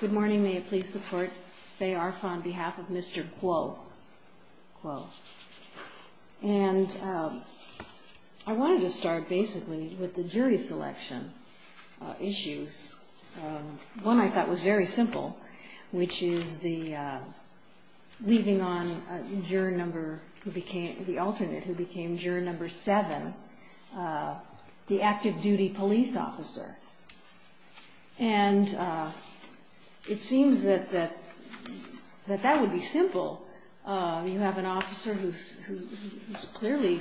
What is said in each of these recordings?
Good morning, may it please support Faye Arfon on behalf of Mr. Guo and I wanted to start basically with the jury selection issues. One I thought was very simple which is the leaving on a juror number who became the alternate who became juror number seven, the active duty police officer. And it seems that that would be simple. You have an officer who's clearly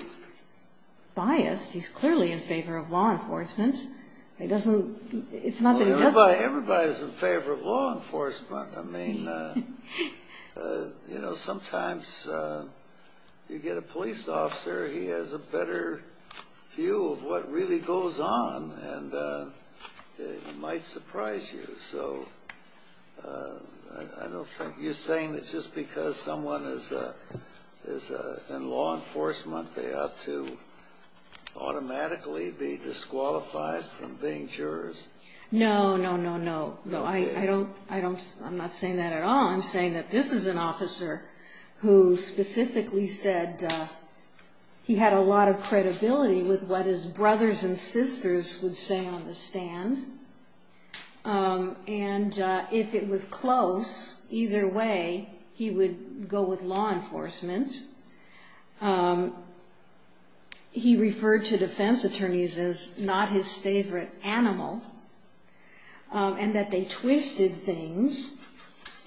biased, he's clearly in favor of law enforcement. He doesn't, it's not that he doesn't. Everybody's in favor of law enforcement. I mean, you know, sometimes you get a police officer, he has a better view of what really goes on and it might surprise you. So I don't think, you're saying that just because someone is in law enforcement they ought to automatically be disqualified from being jurors? No, no, no, no. I don't, I'm not saying that at all. I'm saying that this is an He had a lot of credibility with what his brothers and sisters would say on the stand. And if it was close, either way, he would go with law enforcement. He referred to defense attorneys as not his favorite animal and that they twisted things.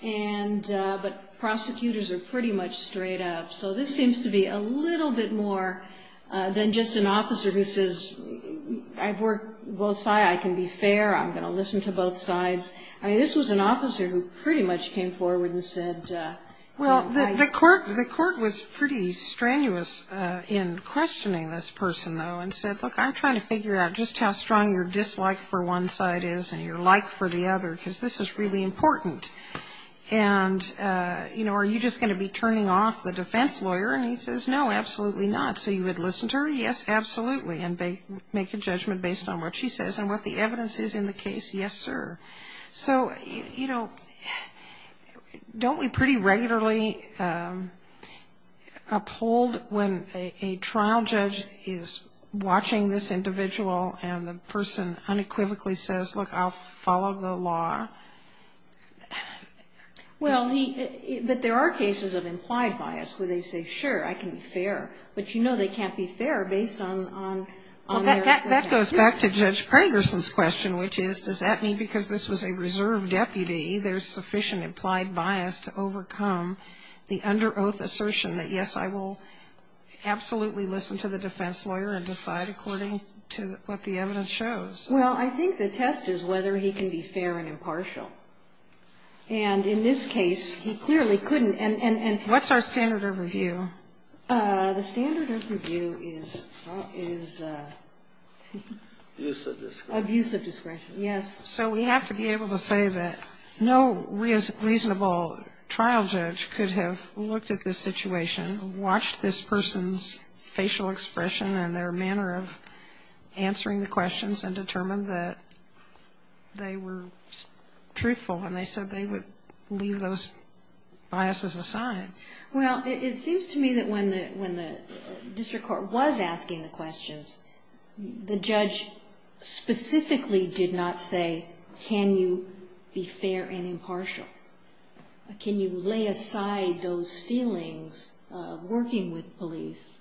And, but prosecutors are pretty much straight up. So this seems to be a little bit more than just an officer who says, I've worked both sides, I can be fair, I'm going to listen to both sides. I mean, this was an officer who pretty much came forward and said, Well, the court, the court was pretty strenuous in questioning this person, though, and said, Look, I'm trying to figure out just how strong your dislike for one side is and your like for the other, because this is really important. And, you know, are you just going to be turning off the defense lawyer? And he says, No, absolutely not. So you would listen to her? Yes, absolutely. And they make a judgment based on what she says and what the evidence is in the case? Yes, sir. So, you know, don't we pretty regularly uphold when a trial judge is watching this individual and the person unequivocally says, Look, I'll follow the law? Well, he But there are cases of implied bias where they say, Sure, I can be fair. But, you know, they can't be fair based on, on Well, that goes back to Judge Pragerson's question, which is, does that mean because this was a reserve deputy, there's sufficient implied bias to overcome the under oath assertion that, Yes, I will absolutely listen to the defense lawyer and decide according to what the evidence shows? Well, I think the test is whether he can be fair and impartial. And in this case, he clearly couldn't. And What's our standard of review? The standard of review is, is abuse of discretion. Yes. So we have to be able to say that no reasonable trial judge could have looked at this situation, watched this person's facial expression and their manner of questions and determined that they were truthful when they said they would leave those biases aside. Well, it seems to me that when the, when the district court was asking the questions, the judge specifically did not say, Can you be fair and impartial? Can you lay aside those feelings of working with police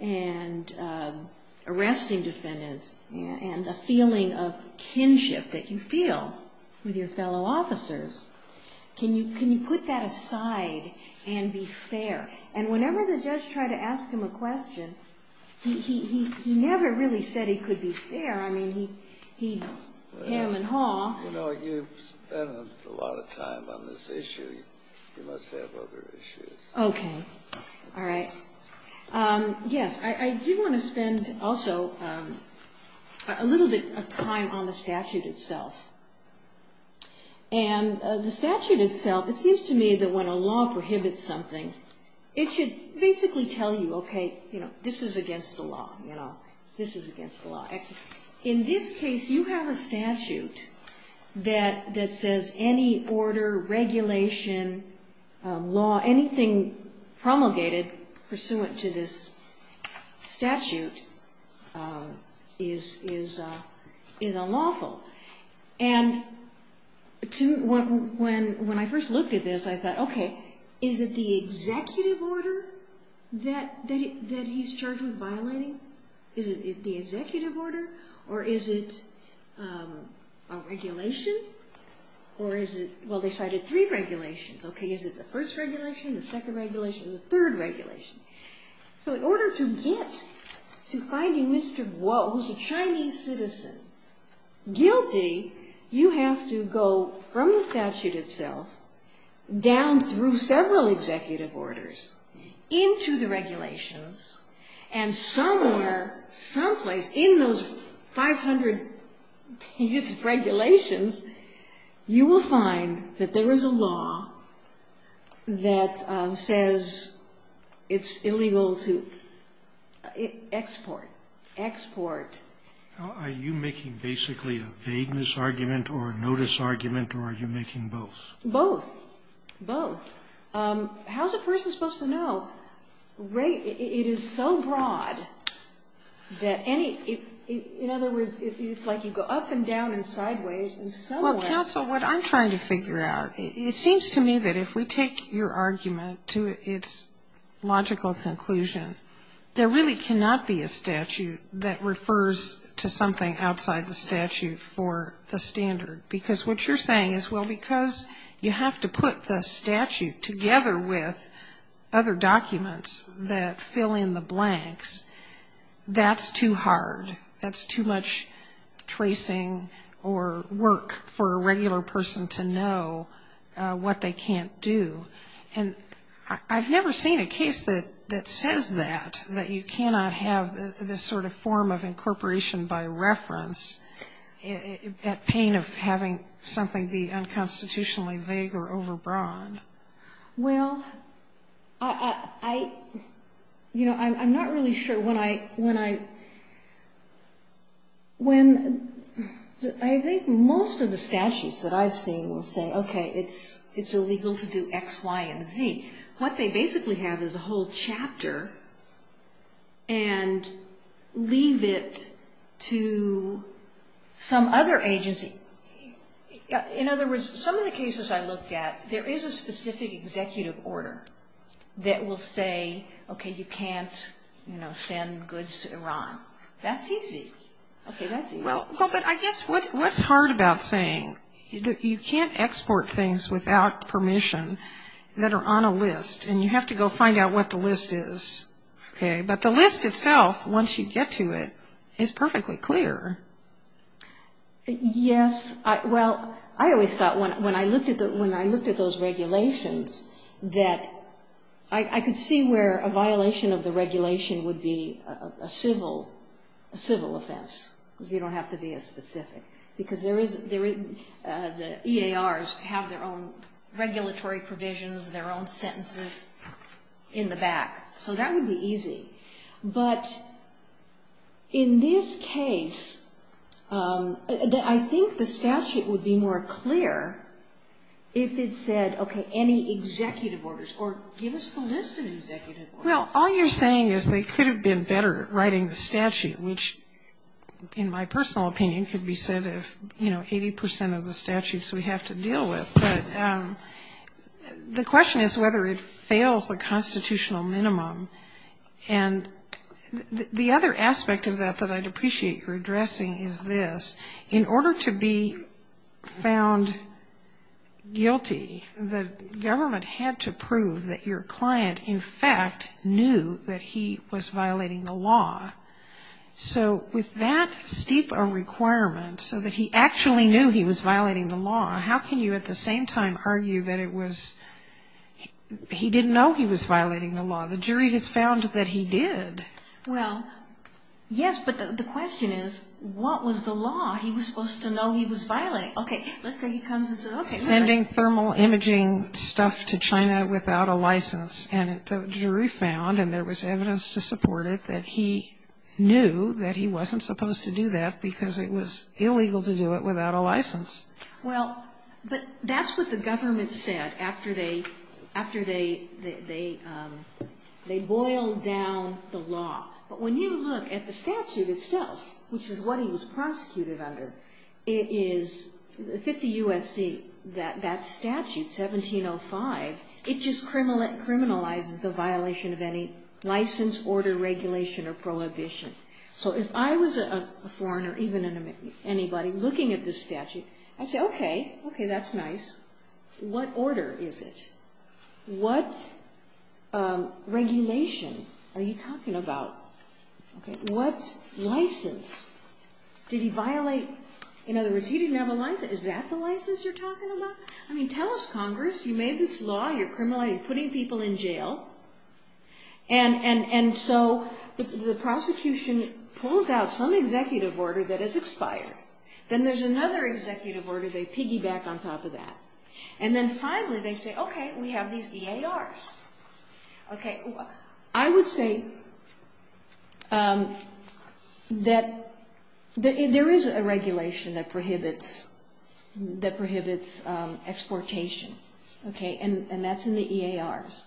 and arresting defendants and a feeling of kinship that you feel with your fellow officers? Can you, can you put that aside and be fair? And whenever the judge tried to ask him a question, he, he, he never really said he could be fair. I mean, he, he, him and Hall. You know, you've spent a lot of time on this issue. You must have other issues. Okay. All right. Yes. I, I do want to spend also a little bit of time on the statute itself and the statute itself. It seems to me that when a law prohibits something, it should basically tell you, okay, you know, this is against the law. You know, this is against the law. In this case, you have a statute that, that says any order, regulation, law, anything promulgated pursuant to this statute is, is, is unlawful. And to, when, when, when I first looked at this, I thought, okay, is it the executive order that, that he, that he's charged with violating? Is it the executive order? Or is it a regulation? Or is it, well, they cited three regulations. Okay. Is it the first regulation, the second regulation, the third regulation? So in order to get to finding Mr. Guo, who's a Chinese citizen, guilty, you have to go from the statute itself down through several executive orders, into the regulations, and somewhere, someplace in those 500 pieces of regulations, you will find that there is a law that says it's illegal to export, export. Scalia. Are you making basically a vagueness argument or a notice argument, or are you making both? Both. Both. How's a person supposed to know, right, it is so broad that any, in other words, it's like you go up and down and sideways and somewhere. Well, counsel, what I'm trying to figure out, it seems to me that if we take your argument to its logical conclusion, there really cannot be a statute that refers to something outside the statute for the standard. Because what you're saying is, well, because you have to put the statute together with other documents that fill in the blanks, that's too hard. That's too much tracing or work for a regular person to know what they can't do. And I've never seen a case that says that, that you cannot have this sort of form of incorporation by reference at pain of having something be unconstitutionally vague or overbroad. Well, I, you know, I'm not really sure when I, when I, when I think most of the statutes that I've seen will say, okay, it's illegal to do X, Y, and Z. What they basically have is a whole chapter and leave it to some other agency. In other words, some of the cases I looked at, there is a specific executive order that will say, okay, you can't, you know, send goods to Iran. That's easy. Okay, that's easy. Well, but I guess what's hard about saying that you can't export things without permission that are on a list, and you have to go find out what the list is. Okay, but the list itself, once you get to it, is perfectly clear. Yes, well, I always thought when I looked at those regulations that I could see where a violation of the regulation would be a civil offense, because you don't have regulatory provisions, their own sentences in the back. So that would be easy. But in this case, I think the statute would be more clear if it said, okay, any executive orders, or give us the list of executive orders. Well, all you're saying is they could have been better writing the statute, which in my personal opinion could be said of, you know, 80 percent of the statutes we have to deal with. But the question is whether it fails the constitutional minimum. And the other aspect of that that I'd appreciate your addressing is this. In order to be found guilty, the government had to prove that your client in fact knew that he was violating the law. So with that steep a requirement so that he actually knew he was violating the law, how can you at the same time argue that he didn't know he was violating the law? The jury has found that he did. Well, yes, but the question is, what was the law? He was supposed to know he was violating. Okay, let's say he comes and says, okay. Sending thermal imaging stuff to China without a license. And the jury found, and there was evidence to support it, that he knew that he wasn't supposed to do that because it was illegal to do it without a license. Well, but that's what the government said after they boiled down the law. But when you look at the statute itself, which is what he was prosecuted under, 50 U.S.C., that statute, 1705, it just criminalizes the violation of any license, order, regulation, or prohibition. So if I was a foreigner, even anybody, looking at this statute, I'd say, okay. Okay, that's nice. What order is it? What regulation are you talking about? What license? Did he violate? In other words, he didn't have a license. Is that the license you're talking about? I mean, tell us, Congress. You made this law. You're criminalizing, putting people in jail. And so the prosecution pulls out some executive order that is expired. Then there's another executive order. They piggyback on top of that. And then finally they say, okay, we have these DARs. I would say that there is a regulation that prohibits exportation. And that's in the EARs.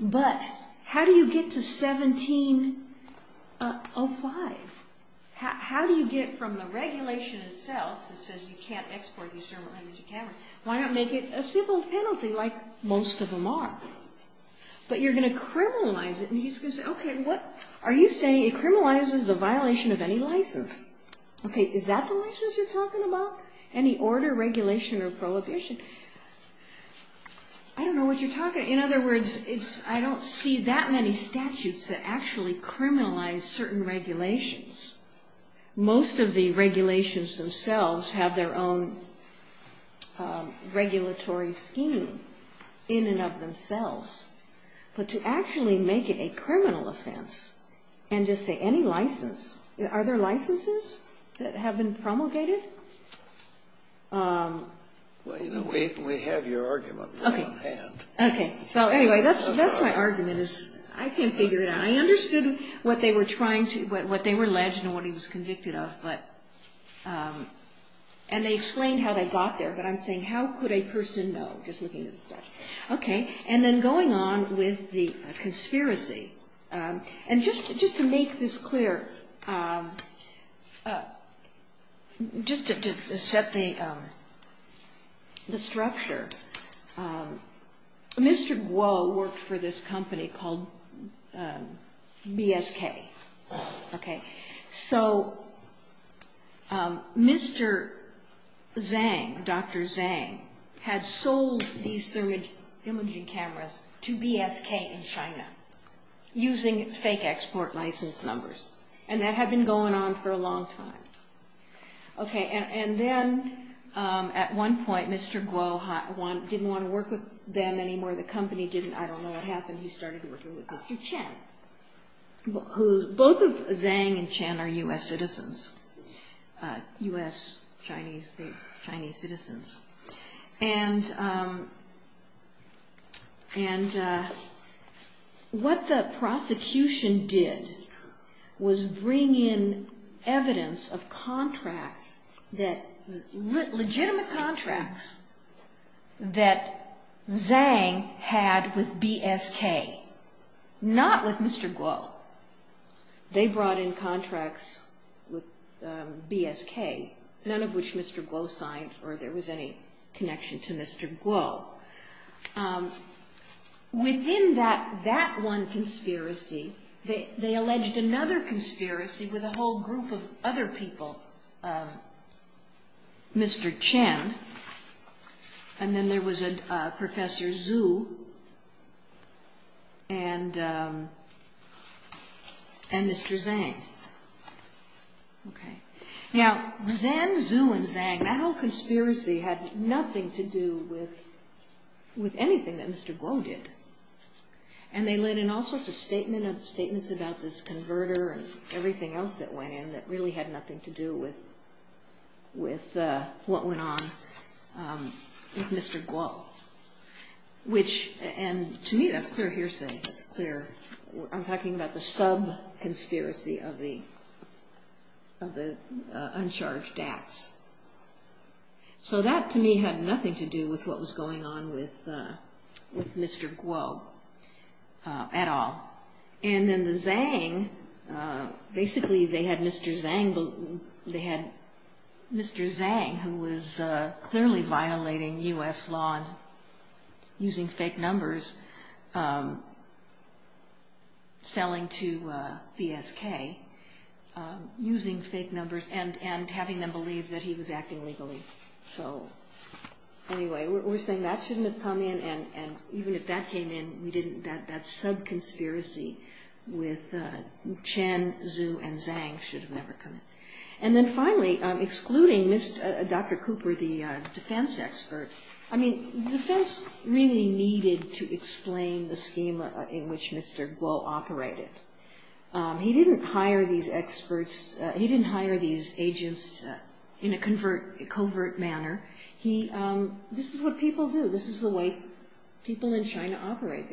But how do you get to 1705? How do you get from the regulation itself that says you can't export these But you're going to criminalize it. And he's going to say, okay, what are you saying? It criminalizes the violation of any license. Okay, is that the license you're talking about? Any order, regulation, or prohibition? I don't know what you're talking about. In other words, I don't see that many statutes that actually criminalize certain regulations. Most of the regulations themselves have their own regulatory scheme in and of themselves. But to actually make it a criminal offense and just say any license, are there licenses that have been promulgated? Well, you know, we have your argument on hand. Okay. So anyway, that's my argument is I can't figure it out. I understood what they were trying to, what they were alleged and what he was convicted of. But, and they explained how they got there. But I'm saying how could a person know, just looking at the statute. Okay. And then going on with the conspiracy. And just to make this clear, just to set the structure, Mr. Guo worked for this company called BSK. Okay. So Mr. Zhang, Dr. Zhang, had sold these imaging cameras to BSK in China, using fake export license numbers. And that had been going on for a long time. Okay. And then at one point, Mr. Guo didn't want to work with them anymore. The company didn't. I don't know what happened. He started working with Mr. Chen. Both of Zhang and Chen are U.S. citizens, U.S. Chinese citizens. And what the prosecution did was bring in evidence of contracts that, legitimate contracts that Zhang had with BSK, not with Mr. Guo. They brought in contracts with BSK, none of which Mr. Guo signed or there was any connection to Mr. Guo. Within that one conspiracy, they alleged another conspiracy with a whole group of other people, Mr. Chen. And then there was Professor Zhu and Mr. Zhang. Okay. Now, Zhen, Zhu, and Zhang, that whole conspiracy had nothing to do with anything that Mr. Guo did. And they let in all sorts of statements about this converter and everything else that went in that really had nothing to do with what went on with Mr. Guo. And to me, that's clear hearsay. That's clear. I'm talking about the sub-conspiracy of the uncharged acts. So that, to me, had nothing to do with what was going on with Mr. Guo at all. And then the Zhang, basically they had Mr. Zhang who was clearly violating U.S. law using fake numbers, selling to BSK using fake numbers and having them believe that he was acting legally. So anyway, we're saying that shouldn't have come in and even if that came in, that sub-conspiracy with Chen, Zhu, and Zhang should have never come in. And then finally, excluding Dr. Cooper, the defense expert, the defense really needed to explain the scheme in which Mr. Guo operated. He didn't hire these agents in a covert manner. This is what people do. This is the way people in China operate.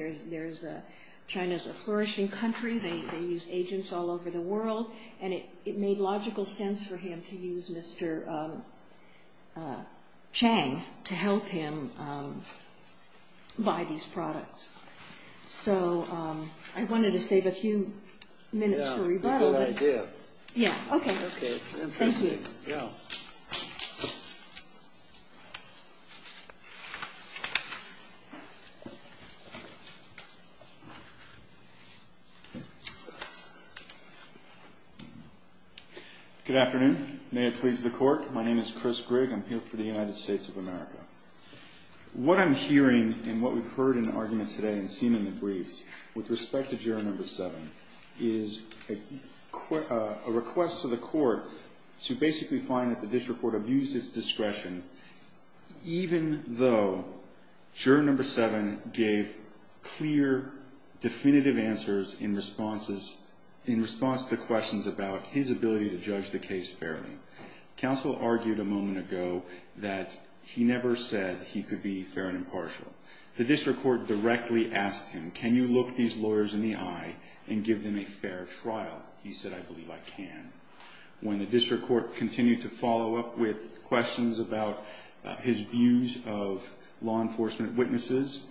China's a flourishing country. They use agents all over the world. And it made logical sense for him to use Mr. Zhang to help him buy these products. So I wanted to save a few minutes for rebuttal. Yeah, good idea. Yeah, okay. Okay. Go. Good afternoon. May it please the Court. My name is Chris Grigg. I'm here for the United States of America. What I'm hearing and what we've heard in the argument today and seen in the briefs with respect to Juror No. 7 is a request to the Court to basically find that the district court abused its discretion, even though Juror No. 7 gave clear, definitive answers in response to questions about his ability to judge the case fairly. Counsel argued a moment ago that he never said he could be fair and impartial. The district court directly asked him, can you look these lawyers in the eye and give them a fair trial? He said, I believe I can. When the district court continued to follow up with questions about his views of law enforcement witnesses,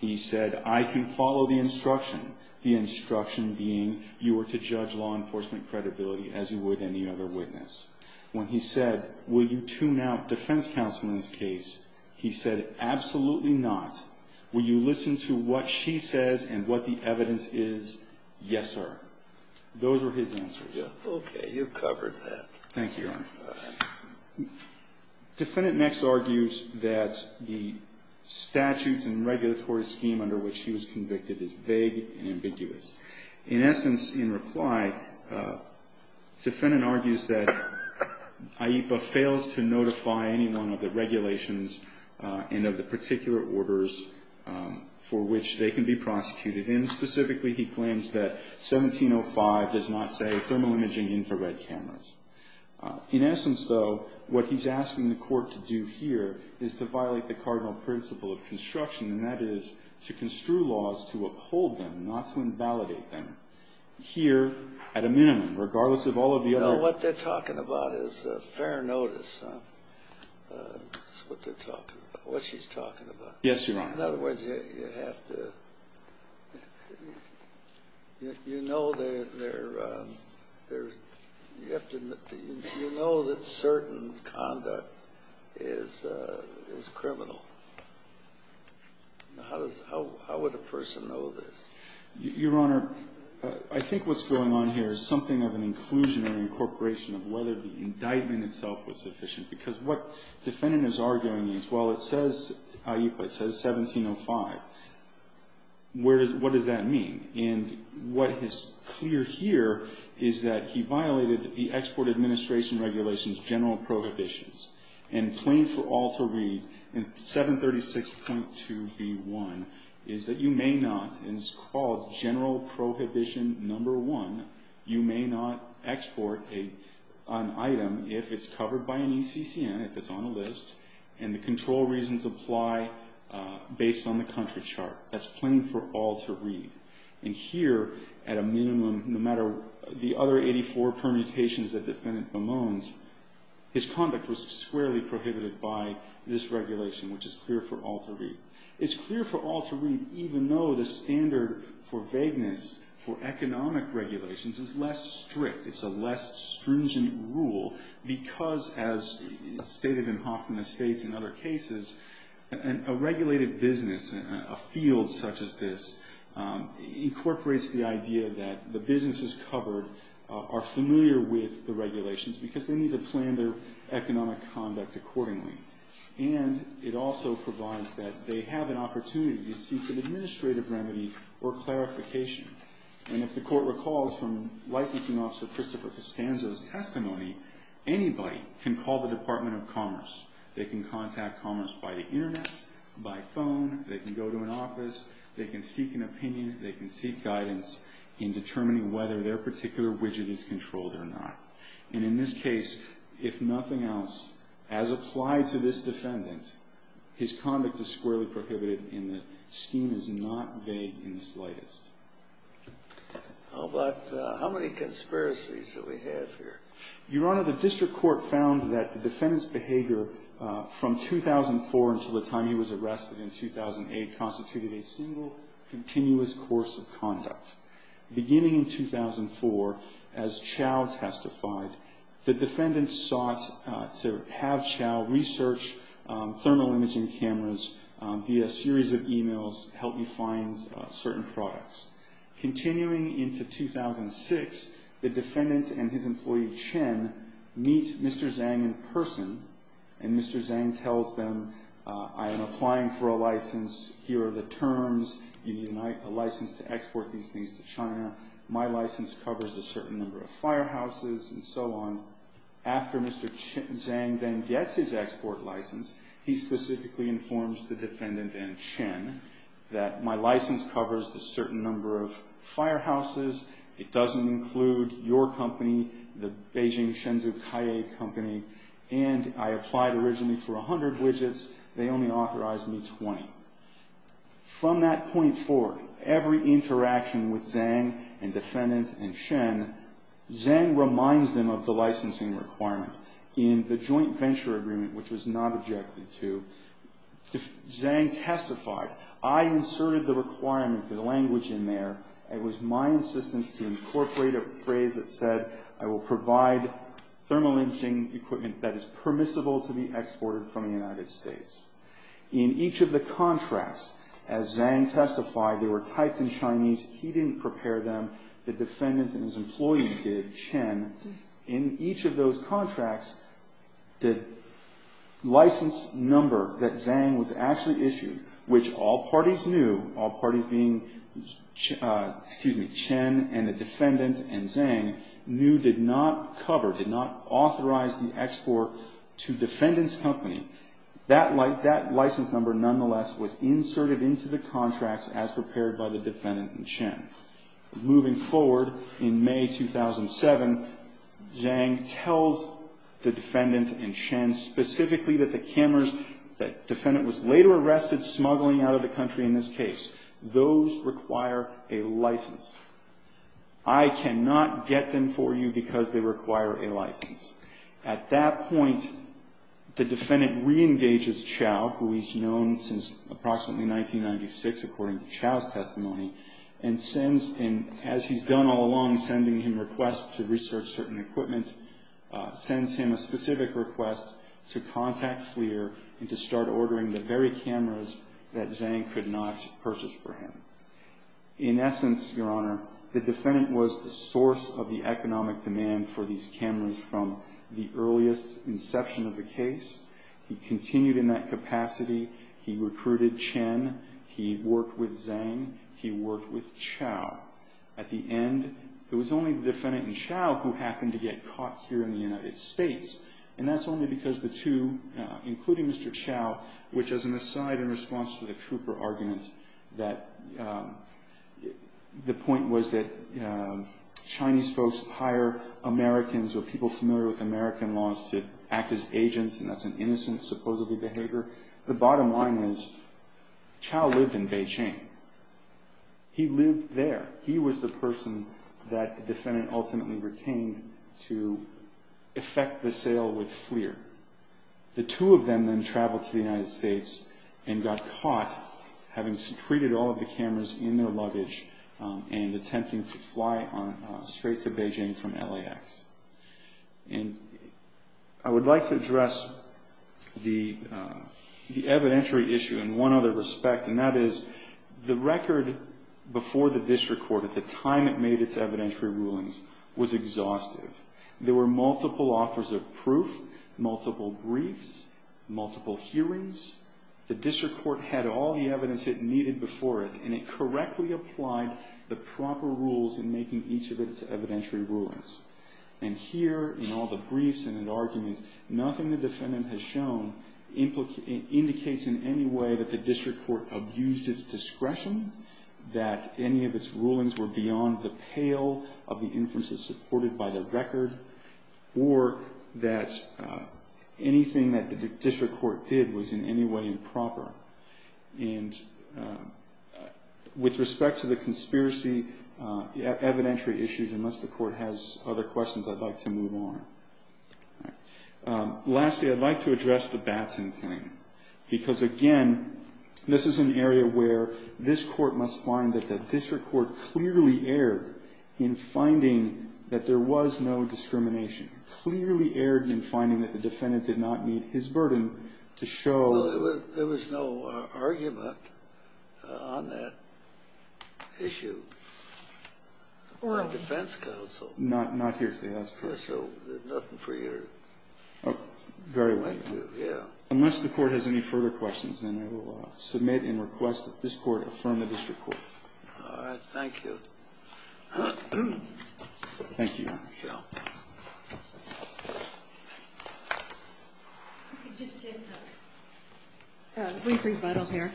he said, I can follow the instruction, the instruction being you are to judge law enforcement credibility as you would any other witness. When he said, will you tune out defense counsel in this case, he said, absolutely not. Will you listen to what she says and what the evidence is? Yes, sir. Those were his answers. Okay. You've covered that. Thank you, Your Honor. Defendant Nex argues that the statutes and regulatory scheme under which he was convicted is vague and ambiguous. In essence, in reply, defendant argues that AIPA fails to notify anyone of the regulations and of the particular orders for which they can be prosecuted. And specifically, he claims that 1705 does not say thermal imaging infrared cameras. In essence, though, what he's asking the court to do here is to violate the cardinal principle of construction, and that is to construe laws to uphold them, not to invalidate them. Here, at a minimum, regardless of all of the other. What they're talking about is fair notice. That's what they're talking about, what she's talking about. Yes, Your Honor. In other words, you know that certain conduct is criminal. How would a person know this? Your Honor, I think what's going on here is something of an inclusion or incorporation of whether the indictment itself was sufficient. Because what defendant is arguing is, well, it says AIPA, it says 1705. What does that mean? And what is clear here is that he violated the Export Administration Regulations general prohibitions. And plain for all to read in 736.2b1 is that you may not, and it's called general prohibition number one, you may not export an item if it's covered by an ECCN, if it's on a list, and the control reasons apply based on the country chart. That's plain for all to read. And here, at a minimum, no matter the other 84 permutations that defendant bemoans, his conduct was squarely prohibited by this regulation, which is clear for all to read. It's clear for all to read even though the standard for vagueness for economic regulations is less strict. It's a less stringent rule because, as stated in Hoffman Estates and other cases, a regulated business, a field such as this, incorporates the idea that the businesses covered are familiar with the regulations because they need to plan their economic conduct accordingly. And it also provides that they have an opportunity to seek an administrative remedy or clarification. And if the court recalls from Licensing Officer Christopher Costanzo's testimony, anybody can call the Department of Commerce. They can contact Commerce by the Internet, by phone. They can go to an office. They can seek an opinion. They can seek guidance in determining whether their particular widget is controlled or not. And in this case, if nothing else, as applied to this defendant, his conduct is squarely prohibited and the scheme is not vague in the slightest. How about how many conspiracies do we have here? Your Honor, the district court found that the defendant's behavior from 2004 until the time he was arrested in 2008 constituted a single continuous course of conduct. Beginning in 2004, as Chao testified, the defendant sought to have Chao research thermal imaging cameras via a series of emails to help you find certain products. Continuing into 2006, the defendant and his employee Chen meet Mr. Zhang in person, and Mr. Zhang tells them, I am applying for a license. Here are the terms. You need a license to export these things to China. My license covers a certain number of firehouses and so on. After Mr. Zhang then gets his export license, he specifically informs the defendant and Chen that my license covers a certain number of firehouses. It doesn't include your company, the Beijing Shenzhou Kaie Company, and I applied originally for 100 widgets. They only authorized me 20. From that point forward, every interaction with Zhang and defendant and Chen, Zhang reminds them of the licensing requirement. In the joint venture agreement, which was not objected to, Zhang testified, I inserted the requirement, the language in there, and it was my insistence to incorporate a phrase that said, I will provide thermal imaging equipment that is permissible to be exported from the United States. In each of the contracts, as Zhang testified, they were typed in Chinese. He didn't prepare them. The defendant and his employee did, Chen. In each of those contracts, the license number that Zhang was actually issued, which all parties knew, all parties being Chen and the defendant and Zhang, knew did not cover, did not authorize the export to defendant's company. That license number, nonetheless, was inserted into the contracts as prepared by the defendant and Chen. Moving forward, in May 2007, Zhang tells the defendant and Chen specifically that the cameras that defendant was later arrested smuggling out of the country in this case, those require a license. At that point, the defendant reengages Chow, who he's known since approximately 1996, according to Chow's testimony, and sends, as he's done all along, sending him requests to research certain equipment, sends him a specific request to contact FLIR and to start ordering the very cameras that Zhang could not purchase for him. In essence, Your Honor, the defendant was the source of the economic demand for these cameras from the earliest inception of the case. He continued in that capacity. He recruited Chen. He worked with Zhang. He worked with Chow. At the end, it was only the defendant and Chow who happened to get caught here in the United States, and that's only because the two, including Mr. Chow, which as an aside in response to the Cooper argument, that the point was that Chinese folks hire Americans or people familiar with American laws to act as agents, and that's an innocent supposedly behavior. The bottom line is Chow lived in Beijing. He lived there. He was the person that the defendant ultimately retained to effect the sale with FLIR. The two of them then traveled to the United States and got caught having secreted all of the cameras in their luggage and attempting to fly straight to Beijing from LAX. And I would like to address the evidentiary issue in one other respect, and that is the record before the district court, at the time it made its evidentiary rulings, was exhaustive. There were multiple offers of proof, multiple briefs, multiple hearings. The district court had all the evidence it needed before it, and it correctly applied the proper rules in making each of its evidentiary rulings. And here in all the briefs and in arguments, nothing the defendant has shown indicates in any way that the district court abused its discretion, that any of its rulings were beyond the pale of the inferences supported by the record, or that anything that the district court did was in any way improper. And with respect to the conspiracy evidentiary issues, unless the court has other questions, I'd like to move on. Lastly, I'd like to address the Batson thing, because, again, this is an area where this court must find that the district court clearly erred in finding that there was no discrimination, clearly erred in finding that the defendant did not meet his burden to show. Well, there was no argument on that issue on the defense counsel. Not here today, that's correct. So nothing for you to point to, yeah. Unless the Court has any further questions, then I will submit and request that this Court affirm the district court. All right. Thank you. Thank you, Your Honor. Thank you, Your Honor. Just a brief rebuttal here.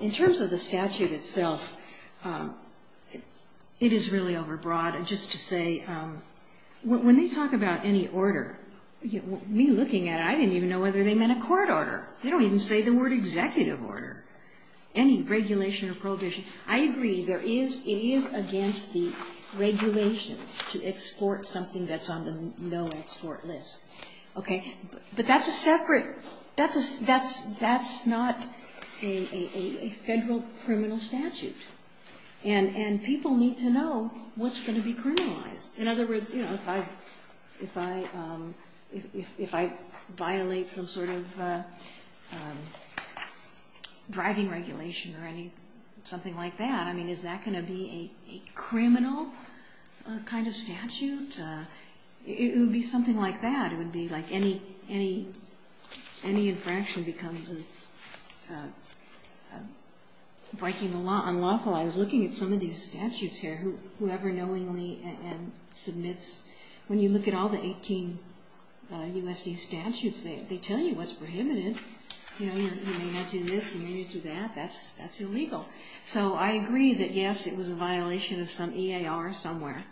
In terms of the statute itself, it is really overbroad. Just to say, when they talk about any order, me looking at it, I didn't even know whether they meant a court order. They don't even say the word executive order. Any regulation or prohibition. I agree, it is against the regulations to export something that's on the no export list. But that's a separate, that's not a federal criminal statute. And people need to know what's going to be criminalized. In other words, if I violate some sort of driving regulation or something like that, is that going to be a criminal kind of statute? It would be something like that. It would be like any infraction becomes breaking the law, unlawful. I was looking at some of these statutes here. Whoever knowingly submits, when you look at all the 18 U.S.C. statutes, they tell you what's prohibited. You may not do this, you may not do that. That's illegal. So I agree that, yes, it was a violation of some E.A.R. somewhere.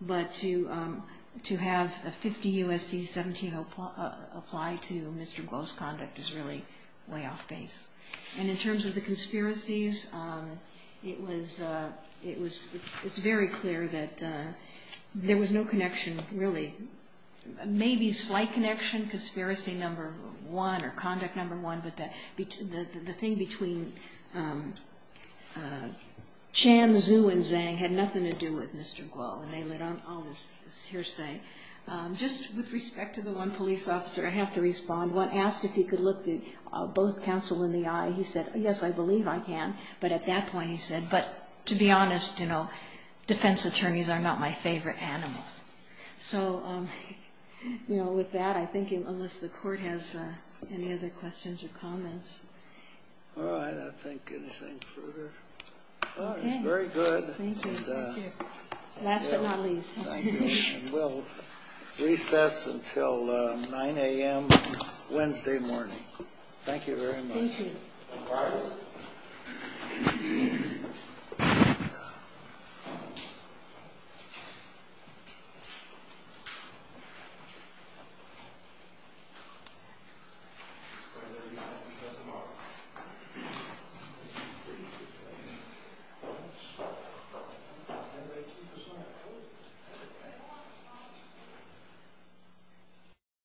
But to have a 50 U.S.C. 17 apply to Mr. Glow's conduct is really way off base. And in terms of the conspiracies, it's very clear that there was no connection, really maybe slight connection, conspiracy number one or conduct number one. But the thing between Chan, Zhu, and Zhang had nothing to do with Mr. Glow, and they let on all this hearsay. Just with respect to the one police officer, I have to respond. When asked if he could look both counsel in the eye, he said, yes, I believe I can. But at that point he said, but to be honest, you know, defense attorneys are not my favorite animal. So, you know, with that, I think unless the Court has any other questions or comments. All right. I don't think anything further. All right. Very good. Thank you. Last but not least. Thank you. We'll recess until 9 a.m. Wednesday morning. Thank you very much. Thank you. Thank you.